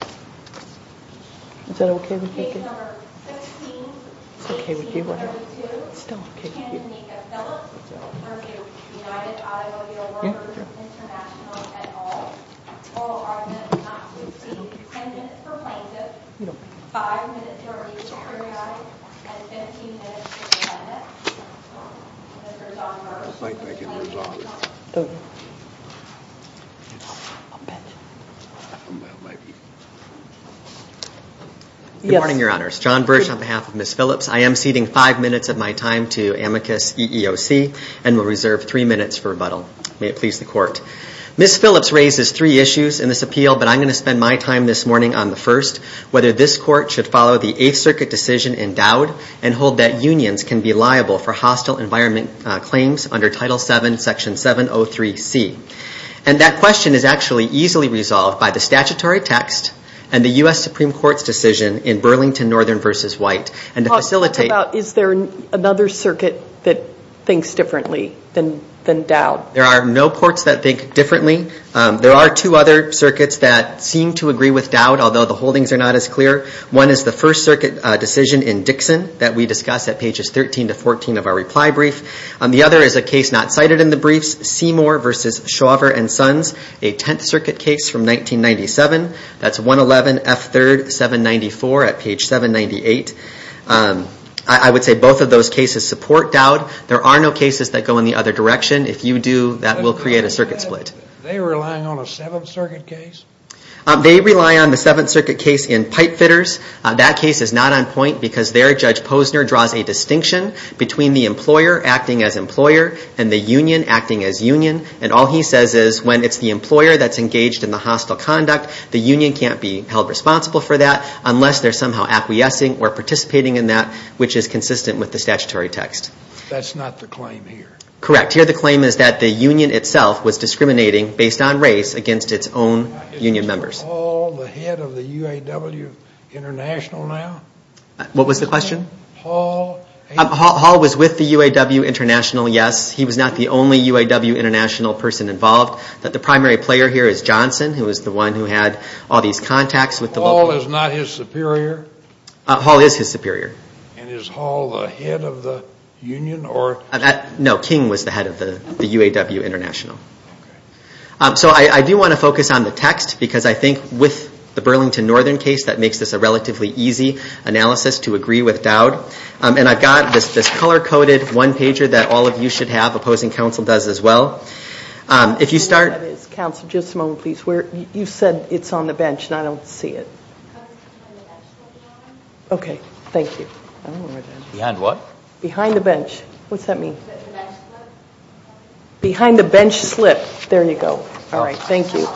Case No. 16-1832, Tanganeka Phillips v. United Automobile Workers International et al. Oral argument not to exceed 10 minutes for plaintiff, 5 minutes for re-securitized, and 15 minutes for defendant. Ms. Phillips raises three issues in this appeal, but I am going to spend my time this morning on the first. First, whether this Court should follow the Eighth Circuit decision in Dowd and hold that unions can be liable for hostile environment claims under Title VII, Section 703C. And that question is actually easily resolved by the statutory text and the U.S. Supreme Court's decision in Burlington Northern v. White. Talk about, is there another circuit that thinks differently than Dowd? There are no courts that think differently. There are two other circuits that seem to agree with Dowd, although the holdings are not as clear. One is the First Circuit decision in Dixon that we discussed at pages 13-14 of our reply brief. The other is a case not cited in the briefs, Seymour v. Chauver & Sons, a Tenth Circuit case from 1997. That's 111F3-794 at page 798. I would say both of those cases support Dowd. There are no cases that go in the other direction. If you do, that will create a circuit split. Are they relying on a Seventh Circuit case? They rely on the Seventh Circuit case in Pipefitters. That case is not on point because their Judge Posner draws a distinction between the employer acting as employer and the union acting as union. And all he says is when it's the employer that's engaged in the hostile conduct, the union can't be held responsible for that unless they're somehow acquiescing or participating in that, which is consistent with the statutory text. That's not the claim here. Correct. Here the claim is that the union itself was discriminating based on race against its own union members. Is Hall the head of the UAW International now? What was the question? Hall was with the UAW International, yes. He was not the only UAW International person involved. The primary player here is Johnson, who was the one who had all these contacts with the local union. Hall is not his superior? Hall is his superior. And is Hall the head of the union? No, King was the head of the UAW International. So I do want to focus on the text because I think with the Burlington Northern case that makes this a relatively easy analysis to agree with Dowd. And I've got this color-coded one-pager that all of you should have. Opposing counsel does as well. If you start... Counsel, just a moment please. You said it's on the bench and I don't see it. Okay. Thank you. Behind what? Behind the bench. What's that mean? Behind the bench slip. Behind the bench slip. There you go. All right. Thank you.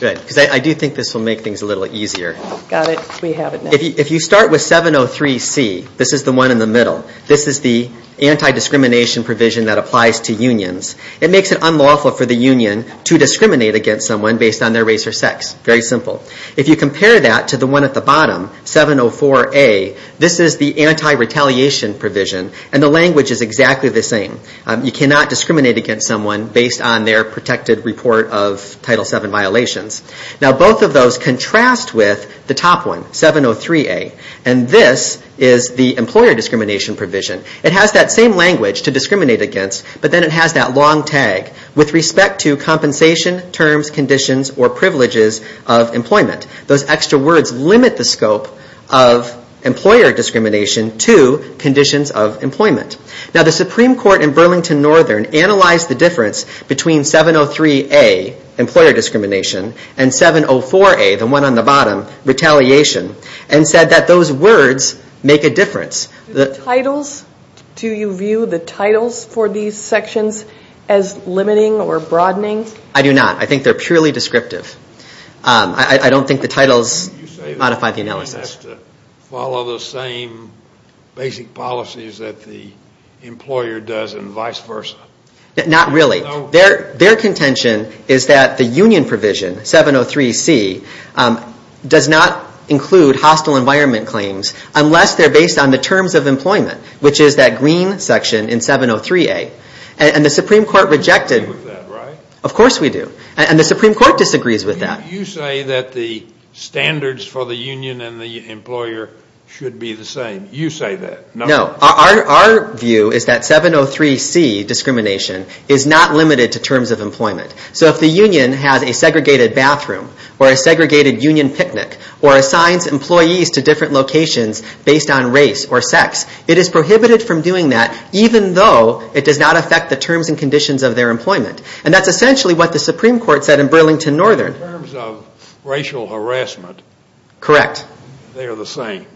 Good. Because I do think this will make things a little easier. Got it. We have it now. If you start with 703C, this is the one in the middle. This is the anti-discrimination provision that applies to unions. It makes it unlawful for the union to discriminate against someone based on their race or sex. Very simple. If you compare that to the one at the bottom, 704A, this is the anti-retaliation provision. And the language is exactly the same. You cannot discriminate against someone based on their protected report of Title VII violations. Now both of those contrast with the top one, 703A. And this is the employer discrimination provision. It has that same language to discriminate against, but then it has that long tag with respect to compensation terms, conditions, or privileges of employment. Those extra words limit the scope of employer discrimination to conditions of employment. Now the Supreme Court in Burlington Northern analyzed the difference between 703A, employer discrimination, and 704A, the one on the bottom, retaliation, and said that those words make a difference. Do you view the titles for these sections as limiting or broadening? I do not. I think they're purely descriptive. I don't think the titles modify the analysis. You say that the union has to follow the same basic policies that the employer does and vice versa. Not really. Their contention is that the union provision, 703C, does not include hostile environment claims unless they're based on the terms of employment, which is that green section in 703A. And the Supreme Court rejected. You agree with that, right? Of course we do. And the Supreme Court disagrees with that. You say that the standards for the union and the employer should be the same. You say that. No. Our view is that 703C, discrimination, is not limited to terms of employment. So if the union has a segregated bathroom or a segregated union picnic or assigns employees to different locations based on race or sex, it is prohibited from doing that even though it does not affect the terms and conditions of their employment. And that's essentially what the Supreme Court said in Burlington Northern. In terms of racial harassment. Correct. They are the same.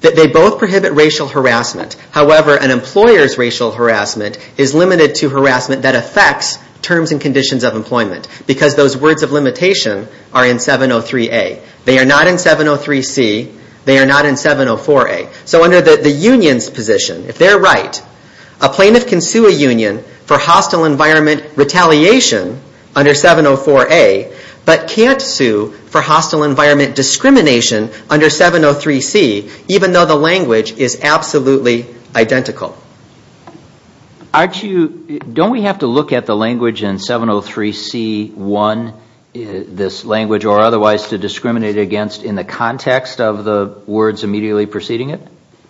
They both prohibit racial harassment. However, an employer's racial harassment is limited to harassment that affects terms and conditions of employment because those words of limitation are in 703A. They are not in 703C. They are not in 704A. So under the union's position, if they're right, a plaintiff can sue a union for hostile environment retaliation under 704A but can't sue for hostile environment discrimination under 703C even though the language is absolutely identical. Don't we have to look at the language in 703C1, this language, or otherwise to discriminate against in the context of the words immediately preceding it?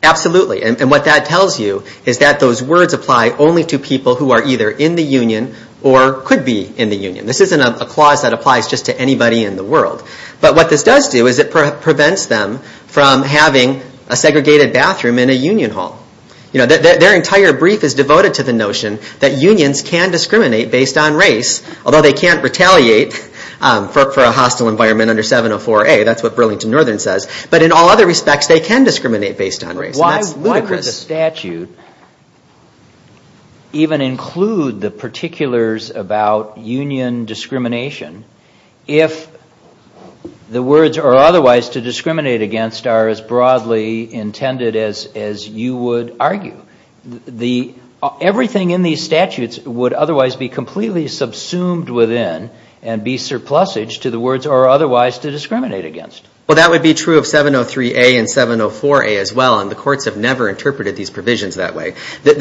Absolutely. And what that tells you is that those words apply only to people who are either in the union or could be in the union. This isn't a clause that applies just to anybody in the world. But what this does do is it prevents them from having a segregated bathroom in a union hall. Their entire brief is devoted to the notion that unions can discriminate based on race, although they can't retaliate for a hostile environment under 704A. That's what Burlington Northern says. But in all other respects, they can discriminate based on race. And that's ludicrous. Why would the statute even include the particulars about union discrimination if the words are otherwise to discriminate against are as broadly intended as you would argue? Everything in these statutes would otherwise be completely subsumed within and be surplusage to the words are otherwise to discriminate against. Well, that would be true of 703A and 704A as well, and the courts have never interpreted these provisions that way.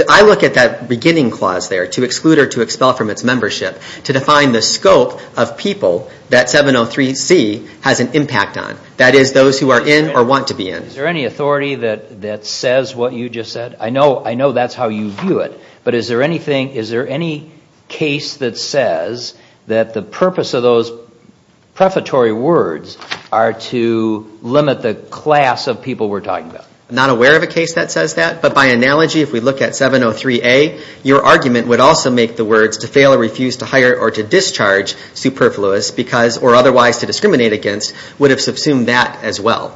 I look at that beginning clause there, to exclude or to expel from its membership, to define the scope of people that 703C has an impact on. That is, those who are in or want to be in. Is there any authority that says what you just said? I know that's how you view it. But is there any case that says that the purpose of those prefatory words are to limit the class of people we're talking about? I'm not aware of a case that says that. But by analogy, if we look at 703A, your argument would also make the words to fail or refuse to hire or to discharge superfluous or otherwise to discriminate against would have subsumed that as well.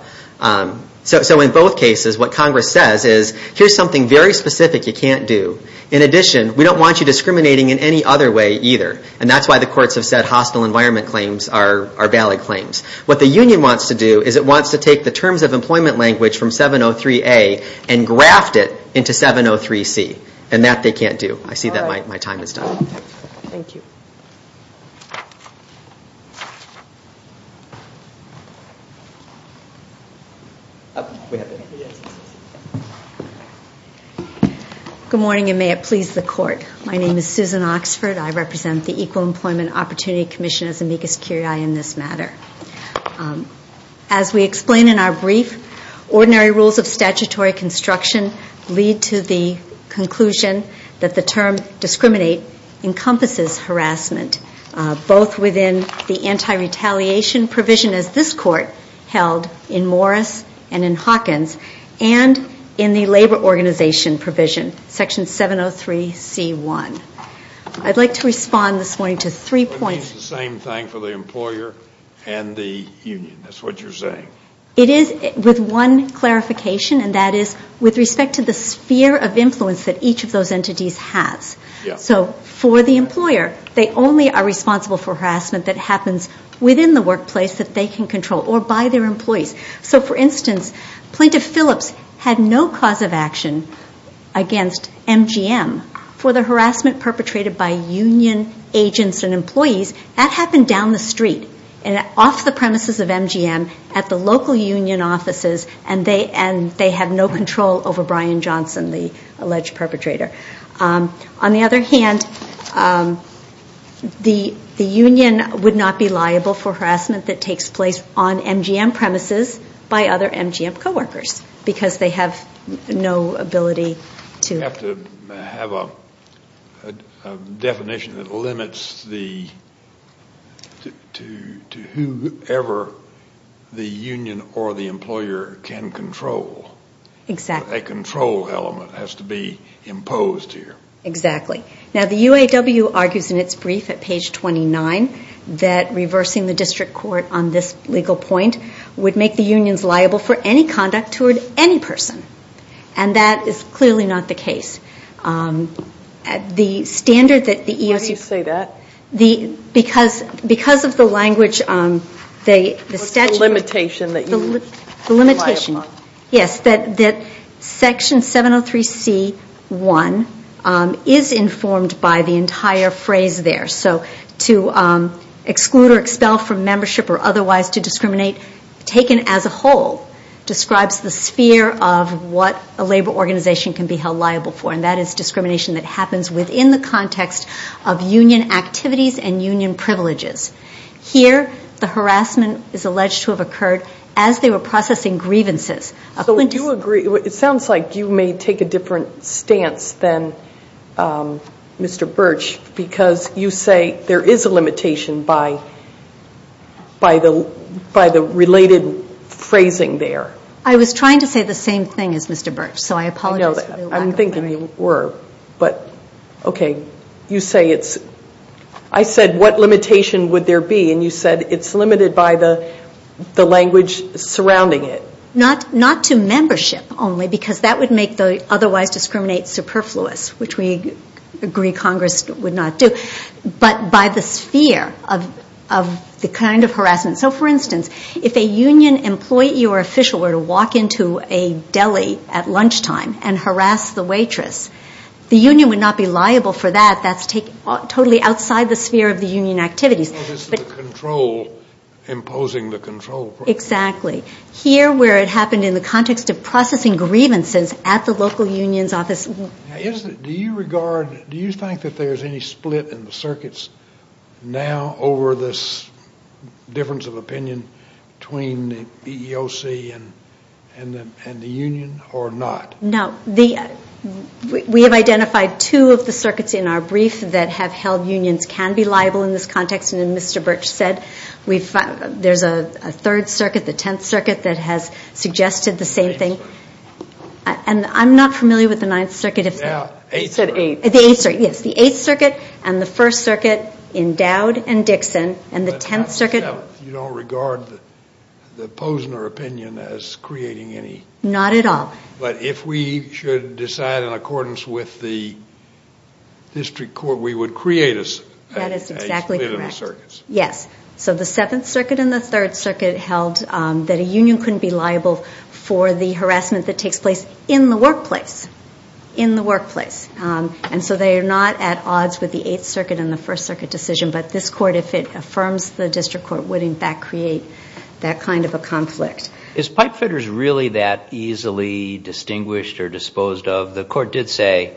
So in both cases, what Congress says is, here's something very specific you can't do. In addition, we don't want you discriminating in any other way either. And that's why the courts have said hostile environment claims are valid claims. What the union wants to do is it wants to take the terms of employment language from 703A and graft it into 703C. And that they can't do. I see that my time is done. Thank you. Good morning, and may it please the court. My name is Susan Oxford. I represent the Equal Employment Opportunity Commission as amicus curiae in this matter. As we explain in our brief, ordinary rules of statutory construction lead to the conclusion that the term discriminate encompasses harassment, both within the anti-retaliation provision as this court held in Morris and in Hawkins and in the labor organization provision, section 703C1. I'd like to respond this morning to three points. It means the same thing for the employer and the union. That's what you're saying. It is with one clarification, and that is with respect to the sphere of influence that each of those entities has. So for the employer, they only are responsible for harassment that happens within the workplace that they can control or by their employees. So, for instance, Plaintiff Phillips had no cause of action against MGM for the harassment perpetrated by union agents and employees. That happened down the street and off the premises of MGM at the local union offices, and they have no control over Brian Johnson, the alleged perpetrator. On the other hand, the union would not be liable for harassment that takes place on MGM premises by other MGM coworkers because they have no ability to. You have to have a definition that limits to whoever the union or the employer can control. Exactly. A control element has to be imposed here. Exactly. Now, the UAW argues in its brief at page 29 that reversing the district court on this legal point would make the unions liable for any conduct toward any person, and that is clearly not the case. How do you say that? Because of the language, the statute. What's the limitation that you rely upon? Yes, that Section 703C1 is informed by the entire phrase there. So, to exclude or expel from membership or otherwise to discriminate taken as a whole describes the sphere of what a labor organization can be held liable for, and that is discrimination that happens within the context of union activities and union privileges. Here, the harassment is alleged to have occurred as they were processing grievances. So you agree. It sounds like you may take a different stance than Mr. Birch because you say there is a limitation by the related phrasing there. I was trying to say the same thing as Mr. Birch, so I apologize for the lack of clarity. I know. I'm thinking you were. But, okay, you say it's – I said what limitation would there be, and you said it's limited by the language surrounding it. Not to membership only because that would make the otherwise discriminate superfluous, which we agree Congress would not do, but by the sphere of the kind of harassment. So, for instance, if a union employee or official were to walk into a deli at lunchtime and harass the waitress, the union would not be liable for that. That's totally outside the sphere of the union activities. It's the control imposing the control. Exactly. Here where it happened in the context of processing grievances at the local union's office. Do you regard – do you think that there's any split in the circuits now over this difference of opinion between the EEOC and the union or not? No. We have identified two of the circuits in our brief that have held unions can be liable in this context, and as Mr. Birch said, there's a third circuit, the Tenth Circuit, that has suggested the same thing. And I'm not familiar with the Ninth Circuit. You said Eighth. The Eighth Circuit, yes. The Eighth Circuit and the First Circuit endowed and Dixon, and the Tenth Circuit – You don't regard the Posner opinion as creating any – Not at all. But if we should decide in accordance with the district court, we would create a split in the circuits. That is exactly correct. Yes. So the Seventh Circuit and the Third Circuit held that a union couldn't be liable for the harassment that takes place in the workplace. In the workplace. And so they are not at odds with the Eighth Circuit and the First Circuit decision, but this court, if it affirms the district court, would in fact create that kind of a conflict. Is pipefitters really that easily distinguished or disposed of? The court did say,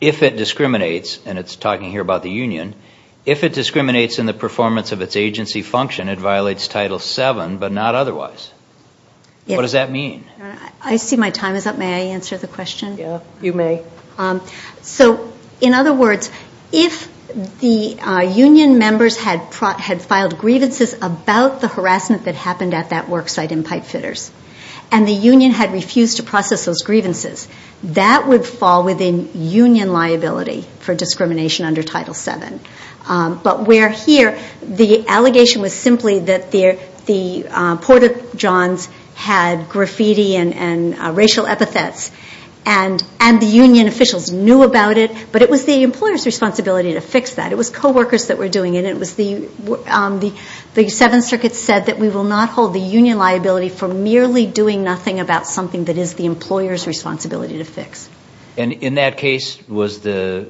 if it discriminates – and it's talking here about the union – if it discriminates in the performance of its agency function, it violates Title VII, but not otherwise. What does that mean? I see my time is up. May I answer the question? Yeah, you may. So, in other words, if the union members had filed grievances about the harassment that happened at that worksite in pipefitters, and the union had refused to process those grievances, that would fall within union liability for discrimination under Title VII. But where here, the allegation was simply that the Porter-Johns had graffiti and racial epithets, and the union officials knew about it, but it was the employer's responsibility to fix that. It was coworkers that were doing it. The Seventh Circuit said that we will not hold the union liability for merely doing nothing about something that is the employer's responsibility to fix. And in that case, was the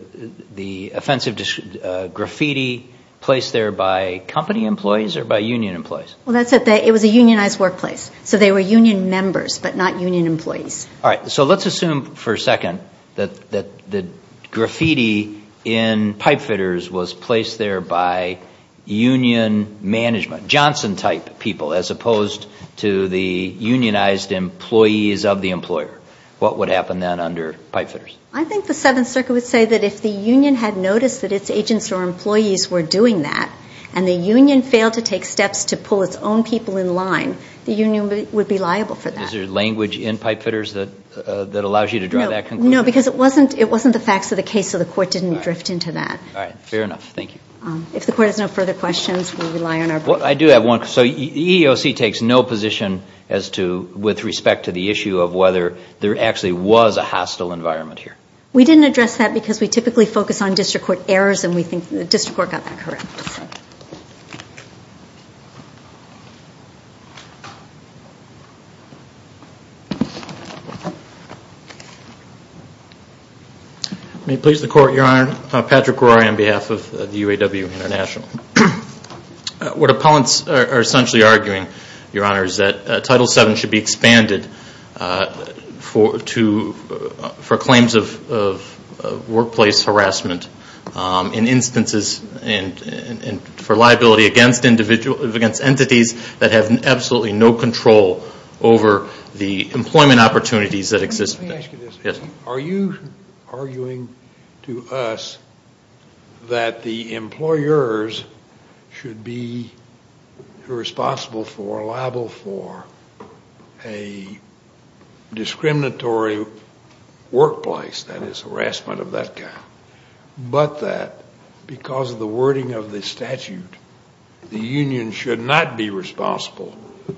offensive graffiti placed there by company employees or by union employees? Well, it was a unionized workplace, so they were union members, but not union employees. All right, so let's assume for a second that the graffiti in pipefitters was placed there by union management, Johnson-type people, as opposed to the unionized employees of the employer. What would happen then under pipefitters? I think the Seventh Circuit would say that if the union had noticed that its agents or employees were doing that, and the union failed to take steps to pull its own people in line, the union would be liable for that. Is there language in pipefitters that allows you to draw that conclusion? No, because it wasn't the facts of the case, so the court didn't drift into that. All right, fair enough. Thank you. If the court has no further questions, we'll rely on our board. Well, I do have one. So EEOC takes no position as to, with respect to the issue of whether there actually was a hostile environment here? We didn't address that because we typically focus on district court errors, and we think the district court got that correct. Thank you. May it please the Court, Your Honor, Patrick Rory on behalf of the UAW International. What appellants are essentially arguing, Your Honor, is that Title VII should be expanded for claims of workplace harassment in instances for liability against entities that have absolutely no control over the employment opportunities that exist. Let me ask you this. Are you arguing to us that the employers should be responsible for or liable for a discriminatory workplace, that is, harassment of that kind, but that because of the wording of the statute, the union should not be responsible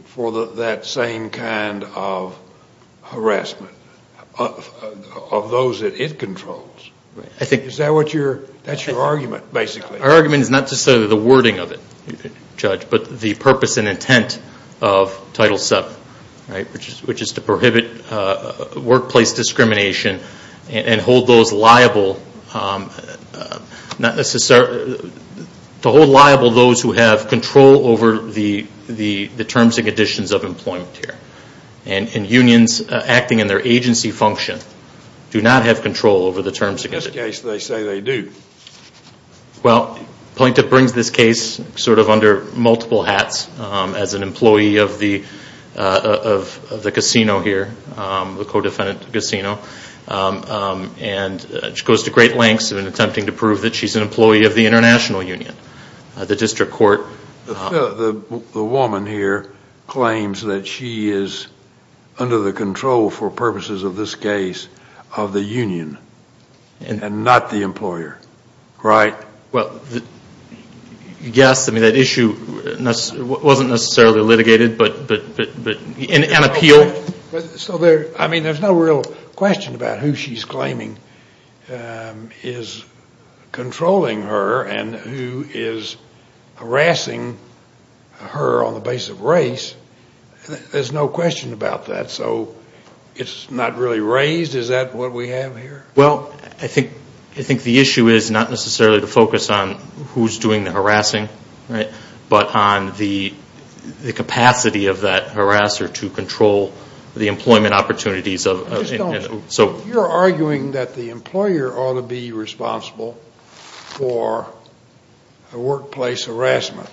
for that same kind of harassment of those that it controls? Is that what you're – that's your argument, basically? Our argument is not to say the wording of it, Judge, but the purpose and intent of Title VII, right, which is to prohibit workplace discrimination and hold those liable – to hold liable those who have control over the terms and conditions of employment here. And unions acting in their agency function do not have control over the terms and conditions. In this case, they say they do. Well, Plaintiff brings this case sort of under multiple hats as an employee of the casino here, the co-defendant casino, and she goes to great lengths in attempting to prove that she's an employee of the international union, the district court. The woman here claims that she is under the control for purposes of this case of the union and not the employer, right? Well, yes. I mean, that issue wasn't necessarily litigated, but – and appealed. So there – I mean, there's no real question about who she's claiming is controlling her and who is harassing her on the basis of race. There's no question about that. So it's not really raised? Is that what we have here? Well, I think the issue is not necessarily to focus on who's doing the harassing, right, but on the capacity of that harasser to control the employment opportunities of – You're arguing that the employer ought to be responsible for a workplace harassment,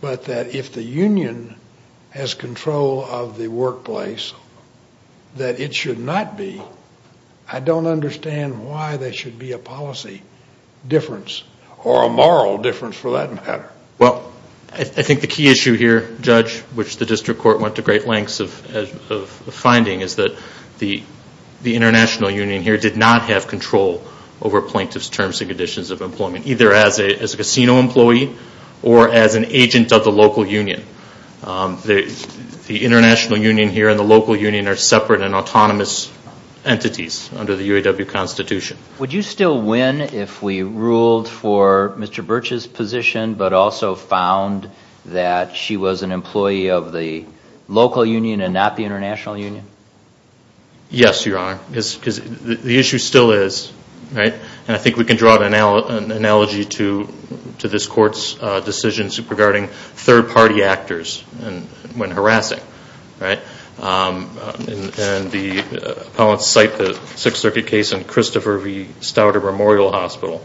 but that if the union has control of the workplace, that it should not be. I don't understand why there should be a policy difference or a moral difference for that matter. Well, I think the key issue here, Judge, which the district court went to great lengths of finding, is that the international union here did not have control over plaintiff's terms and conditions of employment, either as a casino employee or as an agent of the local union. The international union here and the local union are separate and autonomous entities under the UAW Constitution. Would you still win if we ruled for Mr. Birch's position but also found that she was an employee of the local union and not the international union? Yes, Your Honor, because the issue still is, right? when harassing, right? And the appellants cite the Sixth Circuit case in Christopher V. Stouter Memorial Hospital,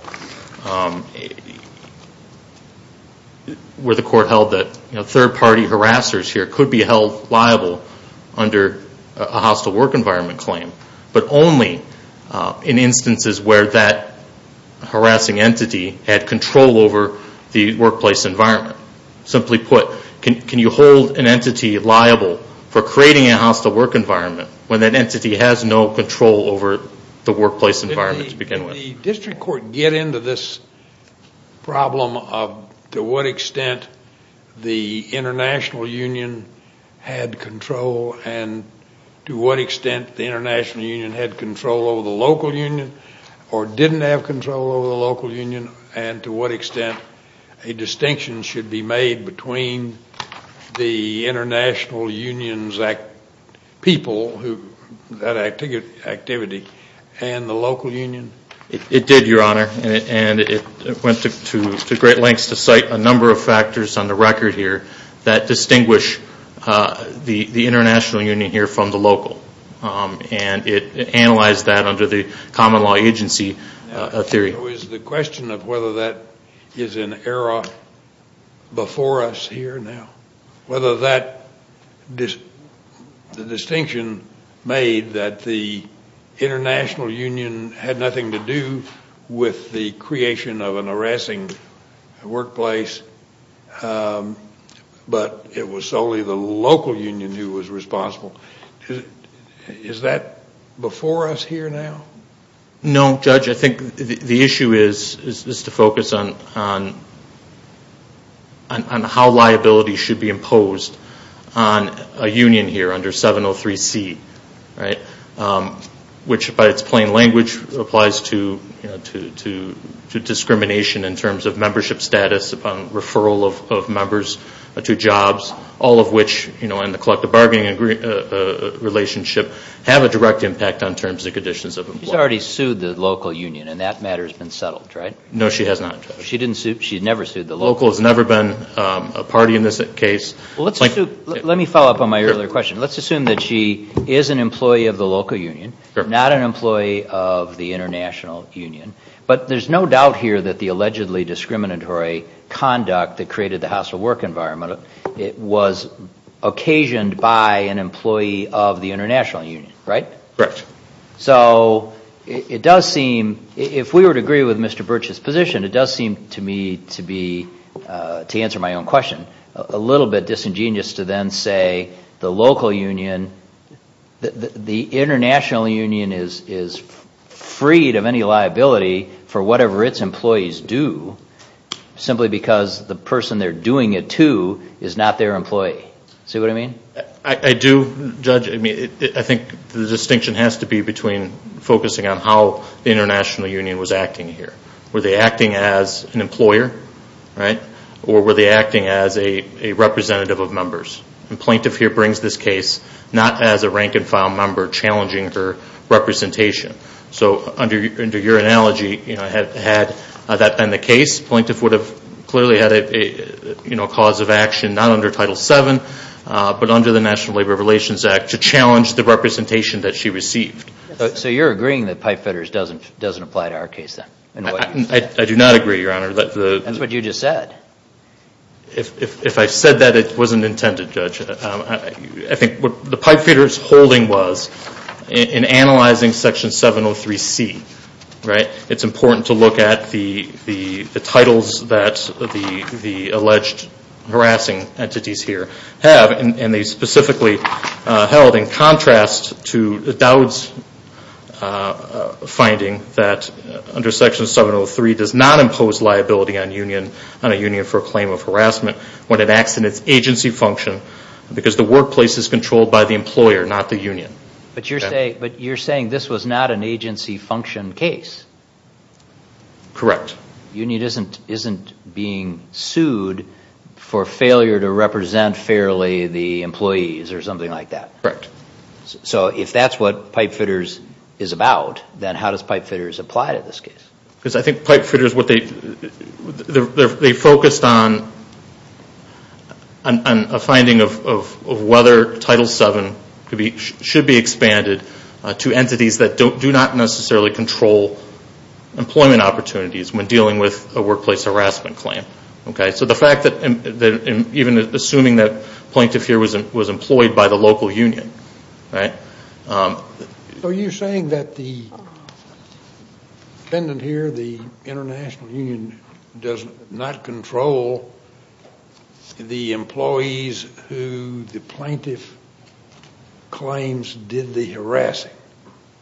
where the court held that third-party harassers here could be held liable under a hostile work environment claim, but only in instances where that harassing entity had control over the workplace environment. Simply put, can you hold an entity liable for creating a hostile work environment when that entity has no control over the workplace environment to begin with? Did the district court get into this problem of to what extent the international union had control and to what extent the international union had control over the local union or didn't have control over the local union and to what extent a distinction should be made between the international union's people, that activity, and the local union? It did, Your Honor, and it went to great lengths to cite a number of factors on the record here that distinguish the international union here from the local. And it analyzed that under the common law agency theory. So is the question of whether that is an era before us here now, whether that distinction made that the international union had nothing to do with the creation of an harassing workplace, but it was solely the local union who was responsible, is that before us here now? No, Judge. I think the issue is to focus on how liability should be imposed on a union here under 703C, which by its plain language applies to discrimination in terms of membership status upon referral of members to jobs, all of which in the collective bargaining relationship have a direct impact on terms and conditions of employment. She's already sued the local union, and that matter has been settled, right? No, she has not, Judge. She didn't sue, she never sued the local? Local has never been a party in this case. Let me follow up on my earlier question. Let's assume that she is an employee of the local union, not an employee of the international union. But there's no doubt here that the allegedly discriminatory conduct that created the hostile work environment was occasioned by an employee of the international union, right? Correct. So it does seem, if we were to agree with Mr. Birch's position, it does seem to me to be, to answer my own question, a little bit disingenuous to then say the local union, the international union is freed of any liability for whatever its employees do who is not their employee. See what I mean? I do, Judge. I think the distinction has to be between focusing on how the international union was acting here. Were they acting as an employer, right? Or were they acting as a representative of members? And Plaintiff here brings this case not as a rank-and-file member challenging her representation. So under your analogy, had that been the case, Plaintiff would have clearly had a cause of action, not under Title VII, but under the National Labor Relations Act, to challenge the representation that she received. So you're agreeing that pipefitters doesn't apply to our case then? I do not agree, Your Honor. That's what you just said. If I said that, it wasn't intended, Judge. I think what the pipefitters' holding was in analyzing Section 703C, right, it's important to look at the titles that the alleged harassing entities here have, and they specifically held in contrast to Dowd's finding that under Section 703 does not impose liability on a union for a claim of harassment when it acts in its agency function because the workplace is controlled by the employer, not the union. But you're saying this was not an agency function case? Correct. The union isn't being sued for failure to represent fairly the employees or something like that? Correct. So if that's what pipefitters is about, then how does pipefitters apply to this case? Because I think pipefitters, they focused on a finding of whether Title VII should be expanded to entities that do not necessarily control employment opportunities when dealing with a workplace harassment claim. So the fact that even assuming that plaintiff here was employed by the local union. So you're saying that the defendant here, the international union, does not control the employees who the plaintiff claims did the harassing.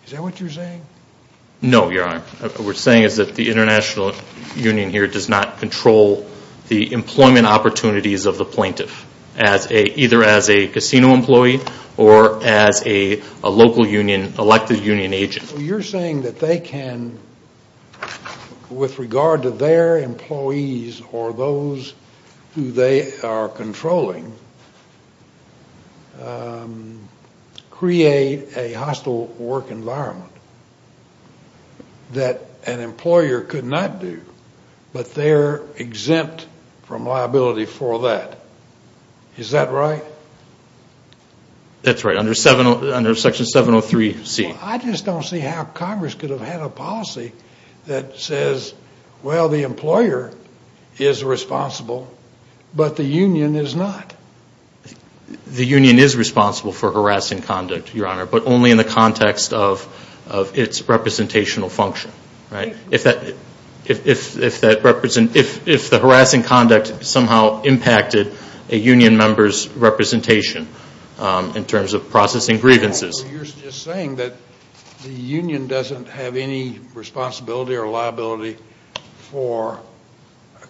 Is that what you're saying? No, Your Honor. What we're saying is that the international union here does not control the employment opportunities of the plaintiff, either as a casino employee or as a local union, elected union agent. You're saying that they can, with regard to their employees or those who they are controlling, create a hostile work environment that an employer could not do, but they're exempt from liability for that. Is that right? That's right. Under Section 703C. I just don't see how Congress could have had a policy that says, well, the employer is responsible, but the union is not. The union is responsible for harassing conduct, Your Honor, but only in the context of its representational function. If the harassing conduct somehow impacted a union member's representation in terms of processing grievances. You're just saying that the union doesn't have any responsibility or liability for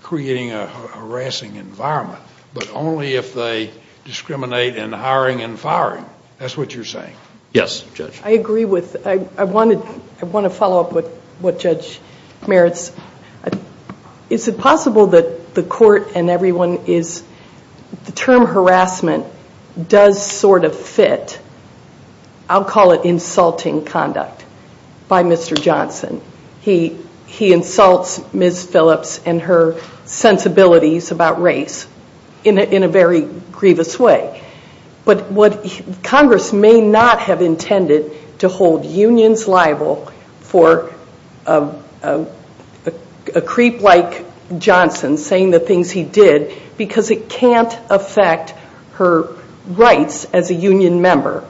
creating a harassing environment, but only if they discriminate in hiring and firing. That's what you're saying. Yes, Judge. I agree with, I want to follow up with what Judge Merritt's, is it possible that the court and everyone is, the term harassment does sort of fit, I'll call it insulting conduct by Mr. Johnson. He insults Ms. Phillips and her sensibilities about race in a very grievous way. But Congress may not have intended to hold unions liable for a creep like Johnson saying the things he did because it can't affect her rights as a union member.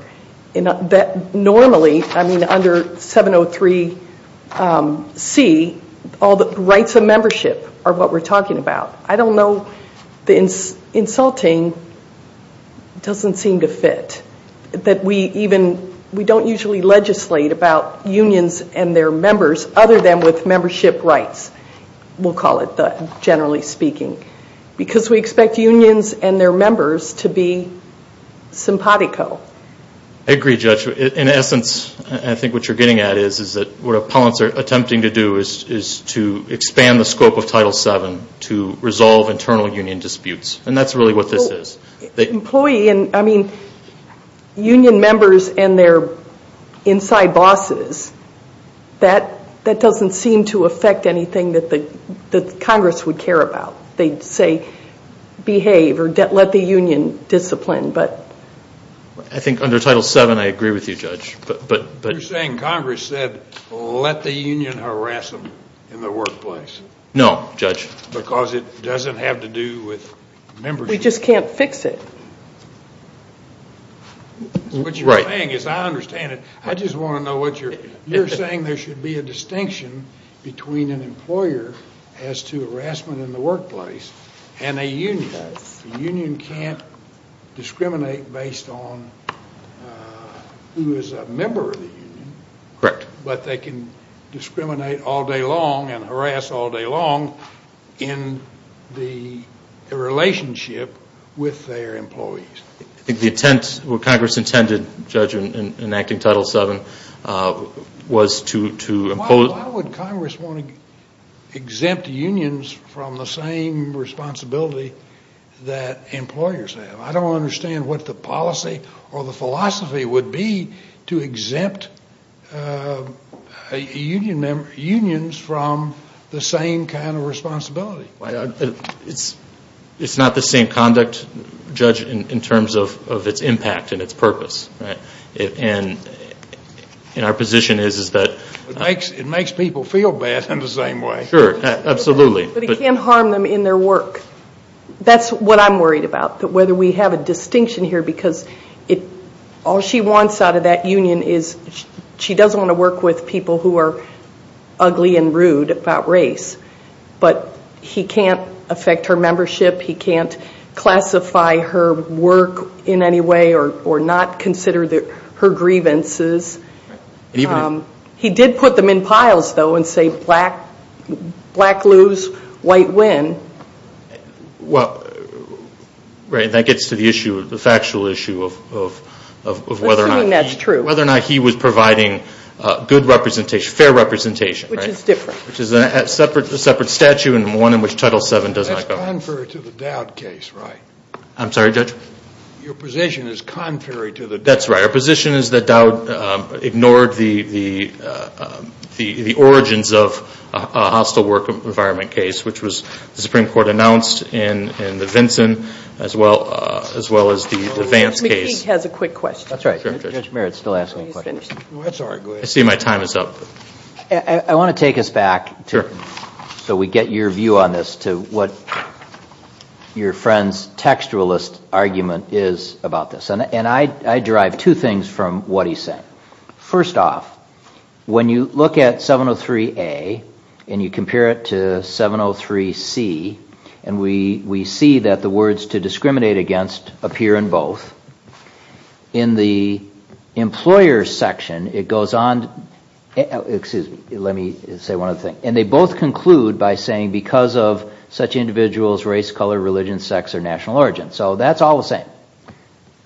Normally, I mean under 703C, all the rights of membership are what we're talking about. I don't know, the insulting doesn't seem to fit. That we even, we don't usually legislate about unions and their members other than with membership rights. We'll call it that, generally speaking. Because we expect unions and their members to be simpatico. I agree, Judge. In essence, I think what you're getting at is, what opponents are attempting to do is to expand the scope of Title VII to resolve internal union disputes. And that's really what this is. Employee, I mean, union members and their inside bosses, that doesn't seem to affect anything that Congress would care about. They'd say behave or let the union discipline. I think under Title VII, I agree with you, Judge. You're saying Congress said let the union harass them in the workplace. No, Judge. Because it doesn't have to do with membership. We just can't fix it. What you're saying is, I understand it. I just want to know what you're, you're saying there should be a distinction between an employer as to harassment in the workplace and a union. The union can't discriminate based on who is a member of the union. Correct. But they can discriminate all day long and harass all day long in the relationship with their employees. I think the intent, what Congress intended, Judge, in enacting Title VII was to impose. Why would Congress want to exempt unions from the same responsibility that employers have? I don't understand what the policy or the philosophy would be to exempt unions from the same kind of responsibility. It's not the same conduct, Judge, in terms of its impact and its purpose. And our position is that it makes people feel bad in the same way. Sure, absolutely. But it can't harm them in their work. That's what I'm worried about, whether we have a distinction here, because all she wants out of that union is she doesn't want to work with people who are ugly and rude about race. But he can't affect her membership. He can't classify her work in any way or not consider her grievances. He did put them in piles, though, and say black lose, white win. Well, that gets to the issue, the factual issue of whether or not he was providing good representation, fair representation. Which is different. Which is a separate statute and one in which Title VII does not go. That's contrary to the Dowd case, right? I'm sorry, Judge? Your position is contrary to the Dowd case. That's right. Our position is that Dowd ignored the origins of a hostile work environment case, which was the Supreme Court announced in the Vinson as well as the Vance case. McKeague has a quick question. That's right. Judge Merritt's still asking questions. I see my time is up. I want to take us back, so we get your view on this, to what your friend's textualist argument is about this. And I derive two things from what he's saying. First off, when you look at 703A and you compare it to 703C, and we see that the words to discriminate against appear in both. In the employer's section, it goes on, excuse me, let me say one other thing. And they both conclude by saying because of such individuals, race, color, religion, sex, or national origin. So that's all the same.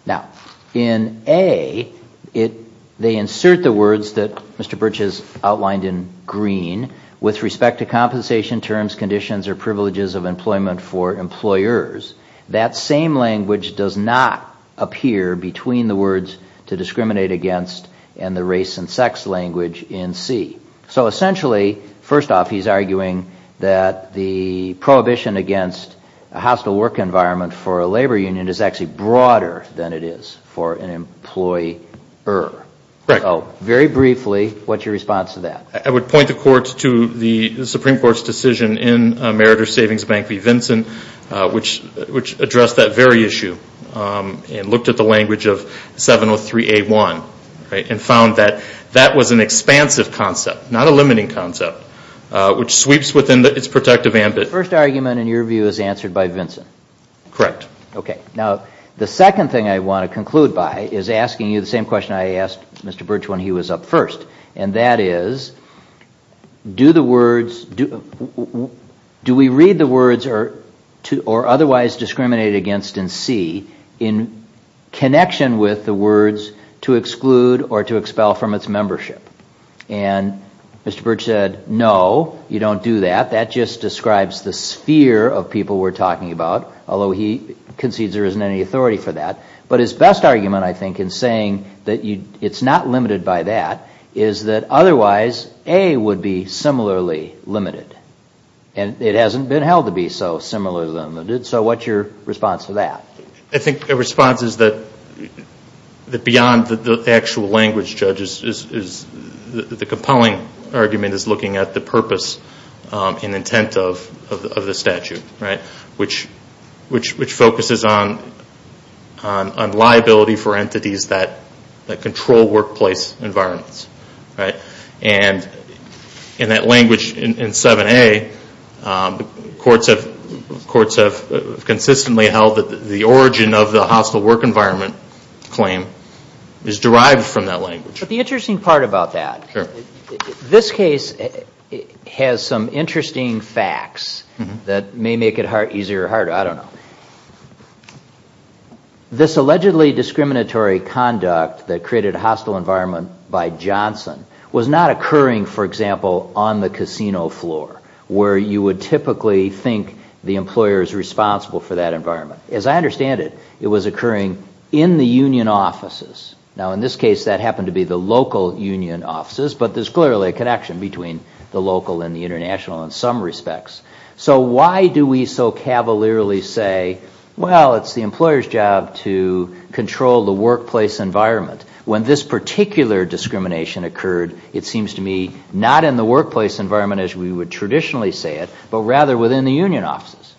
Now, in A, they insert the words that Mr. Birch has outlined in green. With respect to compensation terms, conditions, or privileges of employment for employers, that same language does not appear between the words to discriminate against and the race and sex language in C. So essentially, first off, he's arguing that the prohibition against a hostile work environment for a labor union is actually broader than it is for an employer. So very briefly, what's your response to that? I would point the court to the Supreme Court's decision in Meritor Savings Bank v. Vinson, which addressed that very issue and looked at the language of 703A1 and found that that was an expansive concept, not a limiting concept, which sweeps within its protective ambit. The first argument, in your view, is answered by Vinson? Correct. Okay. Now, the second thing I want to conclude by is asking you the same question I asked Mr. Birch when he was up first, and that is, do we read the words or otherwise discriminate against in C in connection with the words to exclude or to expel from its membership? And Mr. Birch said, no, you don't do that. That just describes the sphere of people we're talking about, although he concedes there isn't any authority for that. But his best argument, I think, in saying that it's not limited by that is that otherwise A would be similarly limited. And it hasn't been held to be so similarly limited. So what's your response to that? I think the response is that beyond the actual language, Judge, is the compelling argument is looking at the purpose and intent of the statute, right, which focuses on liability for entities that control workplace environments, right? And in that language in 7A, courts have consistently held that the origin of the hostile work environment claim is derived from that language. But the interesting part about that, this case has some interesting facts that may make it easier or harder. I don't know. This allegedly discriminatory conduct that created a hostile environment by Johnson was not occurring, for example, on the casino floor, where you would typically think the employer is responsible for that environment. As I understand it, it was occurring in the union offices. Now, in this case, that happened to be the local union offices. But there's clearly a connection between the local and the international in some respects. So why do we so cavalierly say, well, it's the employer's job to control the workplace environment? When this particular discrimination occurred, it seems to me not in the workplace environment as we would traditionally say it, but rather within the union offices.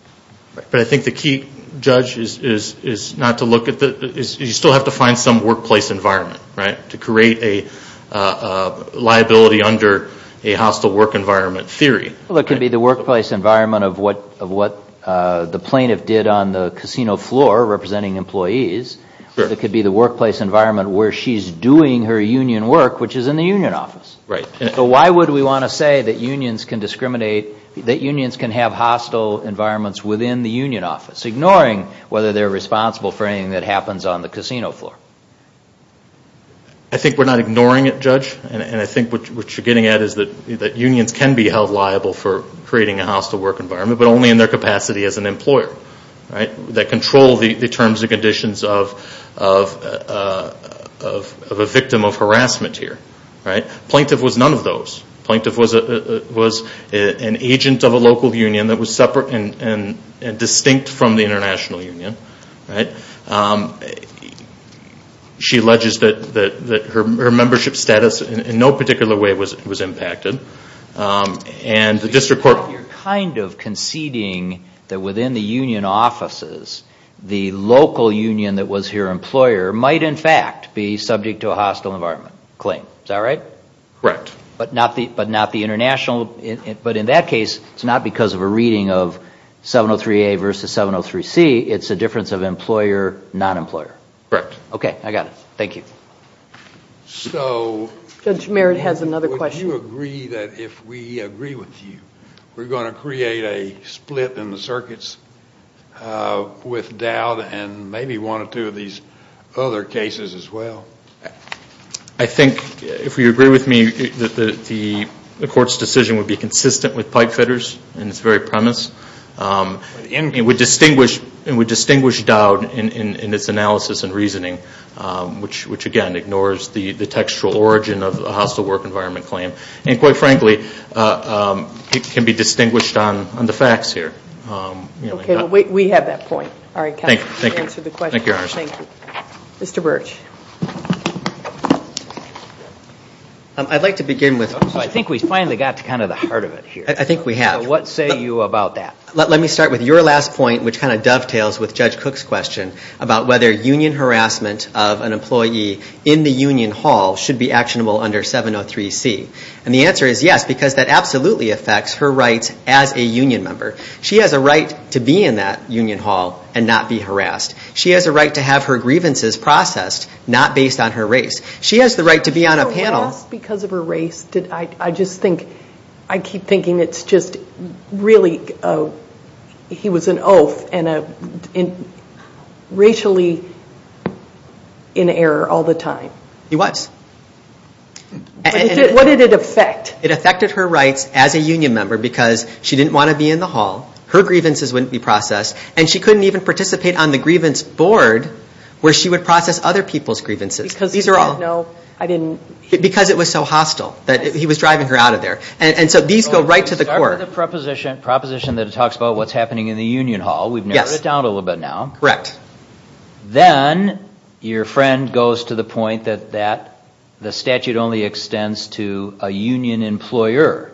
But I think the key, Judge, is not to look at the you still have to find some workplace environment, right, to create a liability under a hostile work environment theory. Well, it could be the workplace environment of what the plaintiff did on the casino floor representing employees. It could be the workplace environment where she's doing her union work, which is in the union office. Right. But why would we want to say that unions can discriminate, that unions can have hostile environments within the union office, ignoring whether they're responsible for anything that happens on the casino floor? I think we're not ignoring it, Judge. And I think what you're getting at is that unions can be held liable for creating a hostile work environment, but only in their capacity as an employer, right, that control the terms and conditions of a victim of harassment here. Right. Plaintiff was none of those. Plaintiff was an agent of a local union that was separate and distinct from the international union. Right. She alleges that her membership status in no particular way was impacted. And the district court... You're kind of conceding that within the union offices, the local union that was her employer might in fact be subject to a hostile environment claim. Is that right? Correct. But not the international... But in that case, it's not because of a reading of 703A versus 703C. It's a difference of employer, non-employer. Correct. Okay, I got it. Thank you. So... Judge Merritt has another question. Do you agree that if we agree with you, we're going to create a split in the circuits with Dowd and maybe one or two of these other cases as well? I think if we agree with me, the court's decision would be consistent with pipefitters in its very premise. It would distinguish Dowd in its analysis and reasoning, which, again, ignores the textual origin of a hostile work environment claim. And quite frankly, it can be distinguished on the facts here. Okay, we have that point. All right, counsel. Thank you. Thank you. Mr. Burch. I'd like to begin with... I think we finally got to kind of the heart of it here. I think we have. So what say you about that? Let me start with your last point, which kind of dovetails with Judge Cook's question about whether union harassment of an employee in the union hall should be actionable under 703C. And the answer is yes, because that absolutely affects her rights as a union member. She has a right to be in that union hall and not be harassed. She has a right to have her grievances processed, not based on her race. She has the right to be on a panel. Just because of her race, I just think... I keep thinking it's just really... He was an oaf and racially in error all the time. He was. What did it affect? It affected her rights as a union member because she didn't want to be in the hall, her grievances wouldn't be processed, and she couldn't even participate on the grievance board where she would process other people's grievances. Because he didn't know... Because it was so hostile. He was driving her out of there. So these go right to the core. Let's start with the proposition that talks about what's happening in the union hall. We've narrowed it down a little bit now. Correct. Then your friend goes to the point that the statute only extends to a union employer.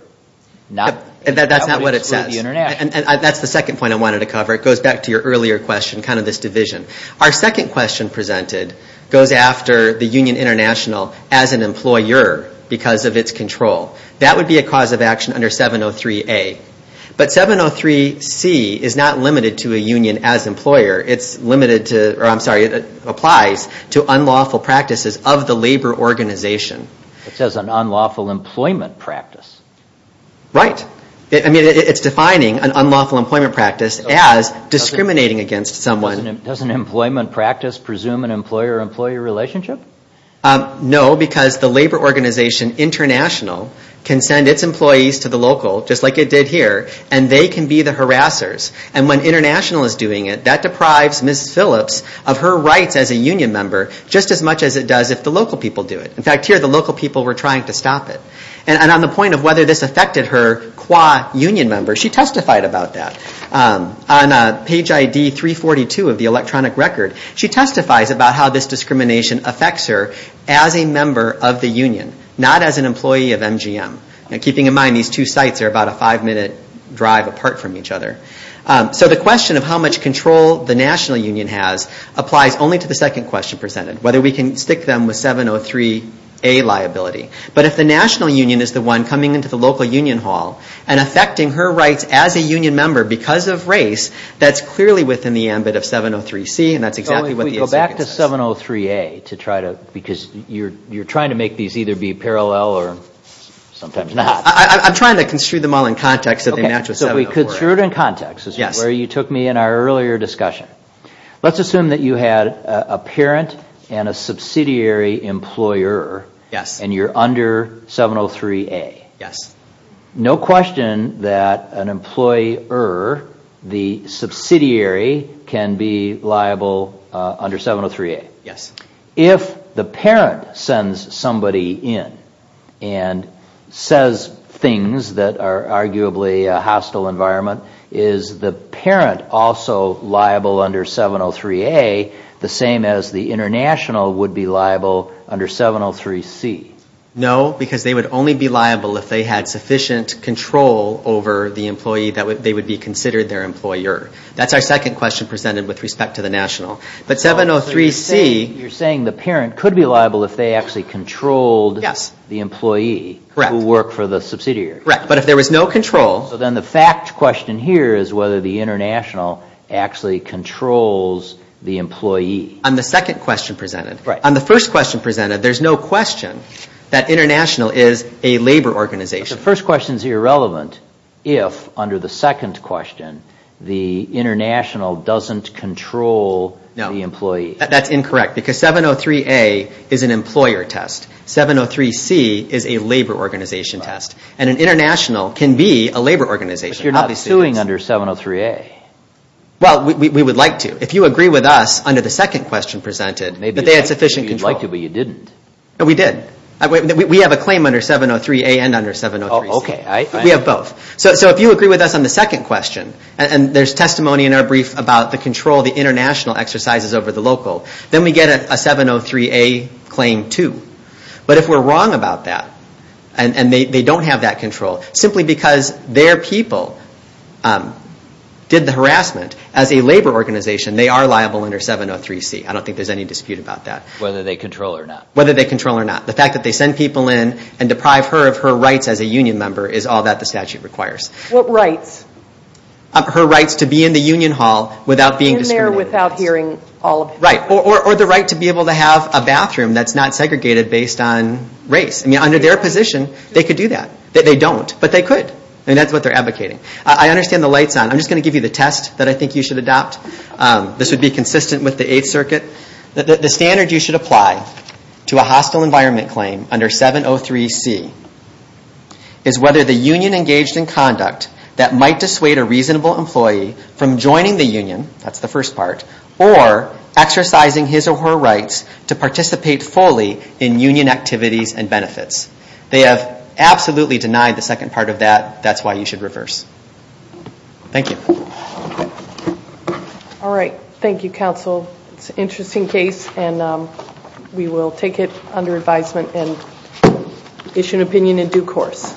That's not what it says. And that's the second point I wanted to cover. It goes back to your earlier question, kind of this division. Our second question presented goes after the Union International as an employer because of its control. That would be a cause of action under 703A. But 703C is not limited to a union as employer. It's limited to... I'm sorry. It applies to unlawful practices of the labor organization. It says an unlawful employment practice. Right. I mean, it's defining an unlawful employment practice as discriminating against someone. Doesn't employment practice presume an employer-employee relationship? No, because the labor organization international can send its employees to the local, just like it did here, and they can be the harassers. And when international is doing it, that deprives Ms. Phillips of her rights as a union member, just as much as it does if the local people do it. In fact, here the local people were trying to stop it. And on the point of whether this affected her qua union member, she testified about that. On page ID 342 of the electronic record, she testifies about how this discrimination affects her as a member of the union, not as an employee of MGM. Keeping in mind these two sites are about a five-minute drive apart from each other. So the question of how much control the national union has applies only to the second question presented, whether we can stick them with 703A liability. But if the national union is the one coming into the local union hall and affecting her rights as a union member because of race, that's clearly within the ambit of 703C, and that's exactly what the executive says. So if we go back to 703A to try to, because you're trying to make these either be parallel or sometimes not. I'm trying to construe them all in context so they match with 703A. So if we construe it in context, where you took me in our earlier discussion. Let's assume that you had a parent and a subsidiary employer, and you're under 703A. Yes. No question that an employer, the subsidiary, can be liable under 703A. Yes. If the parent sends somebody in and says things that are arguably a hostile environment, is the parent also liable under 703A the same as the international would be liable under 703C? No, because they would only be liable if they had sufficient control over the employee. They would be considered their employer. That's our second question presented with respect to the national. But 703C. You're saying the parent could be liable if they actually controlled the employee who worked for the subsidiary. Correct. But if there was no control. So then the fact question here is whether the international actually controls the employee. On the second question presented. Right. On the first question presented, there's no question that international is a labor organization. But the first question is irrelevant if, under the second question, the international doesn't control the employee. No. That's incorrect because 703A is an employer test. 703C is a labor organization test. And an international can be a labor organization. But you're not suing under 703A. Well, we would like to. If you agree with us, under the second question presented, that they had sufficient control. Maybe you'd like to, but you didn't. We did. We have a claim under 703A and under 703C. Okay. We have both. So if you agree with us on the second question, and there's testimony in our brief about the control the international exercises over the local, then we get a 703A claim, too. But if we're wrong about that, and they don't have that control, simply because their people did the harassment as a labor organization, they are liable under 703C. I don't think there's any dispute about that. Whether they control or not. Whether they control or not. The fact that they send people in and deprive her of her rights as a union member is all that the statute requires. What rights? Her rights to be in the union hall without being discriminated against. In there without hearing all of it. Right. Or the right to be able to have a bathroom that's not segregated based on race. I mean, under their position, they could do that. They don't. But they could. And that's what they're advocating. I understand the lights on. I'm just going to give you the test that I think you should adopt. This would be consistent with the Eighth Circuit. The standard you should apply to a hostile environment claim under 703C is whether the union engaged in conduct that might dissuade a reasonable employee from joining the union, that's the first part, or exercising his or her rights to participate fully in union activities and benefits. They have absolutely denied the second part of that. That's why you should reverse. Thank you. All right. Thank you, counsel. It's an interesting case, and we will take it under advisement and issue an opinion in due course.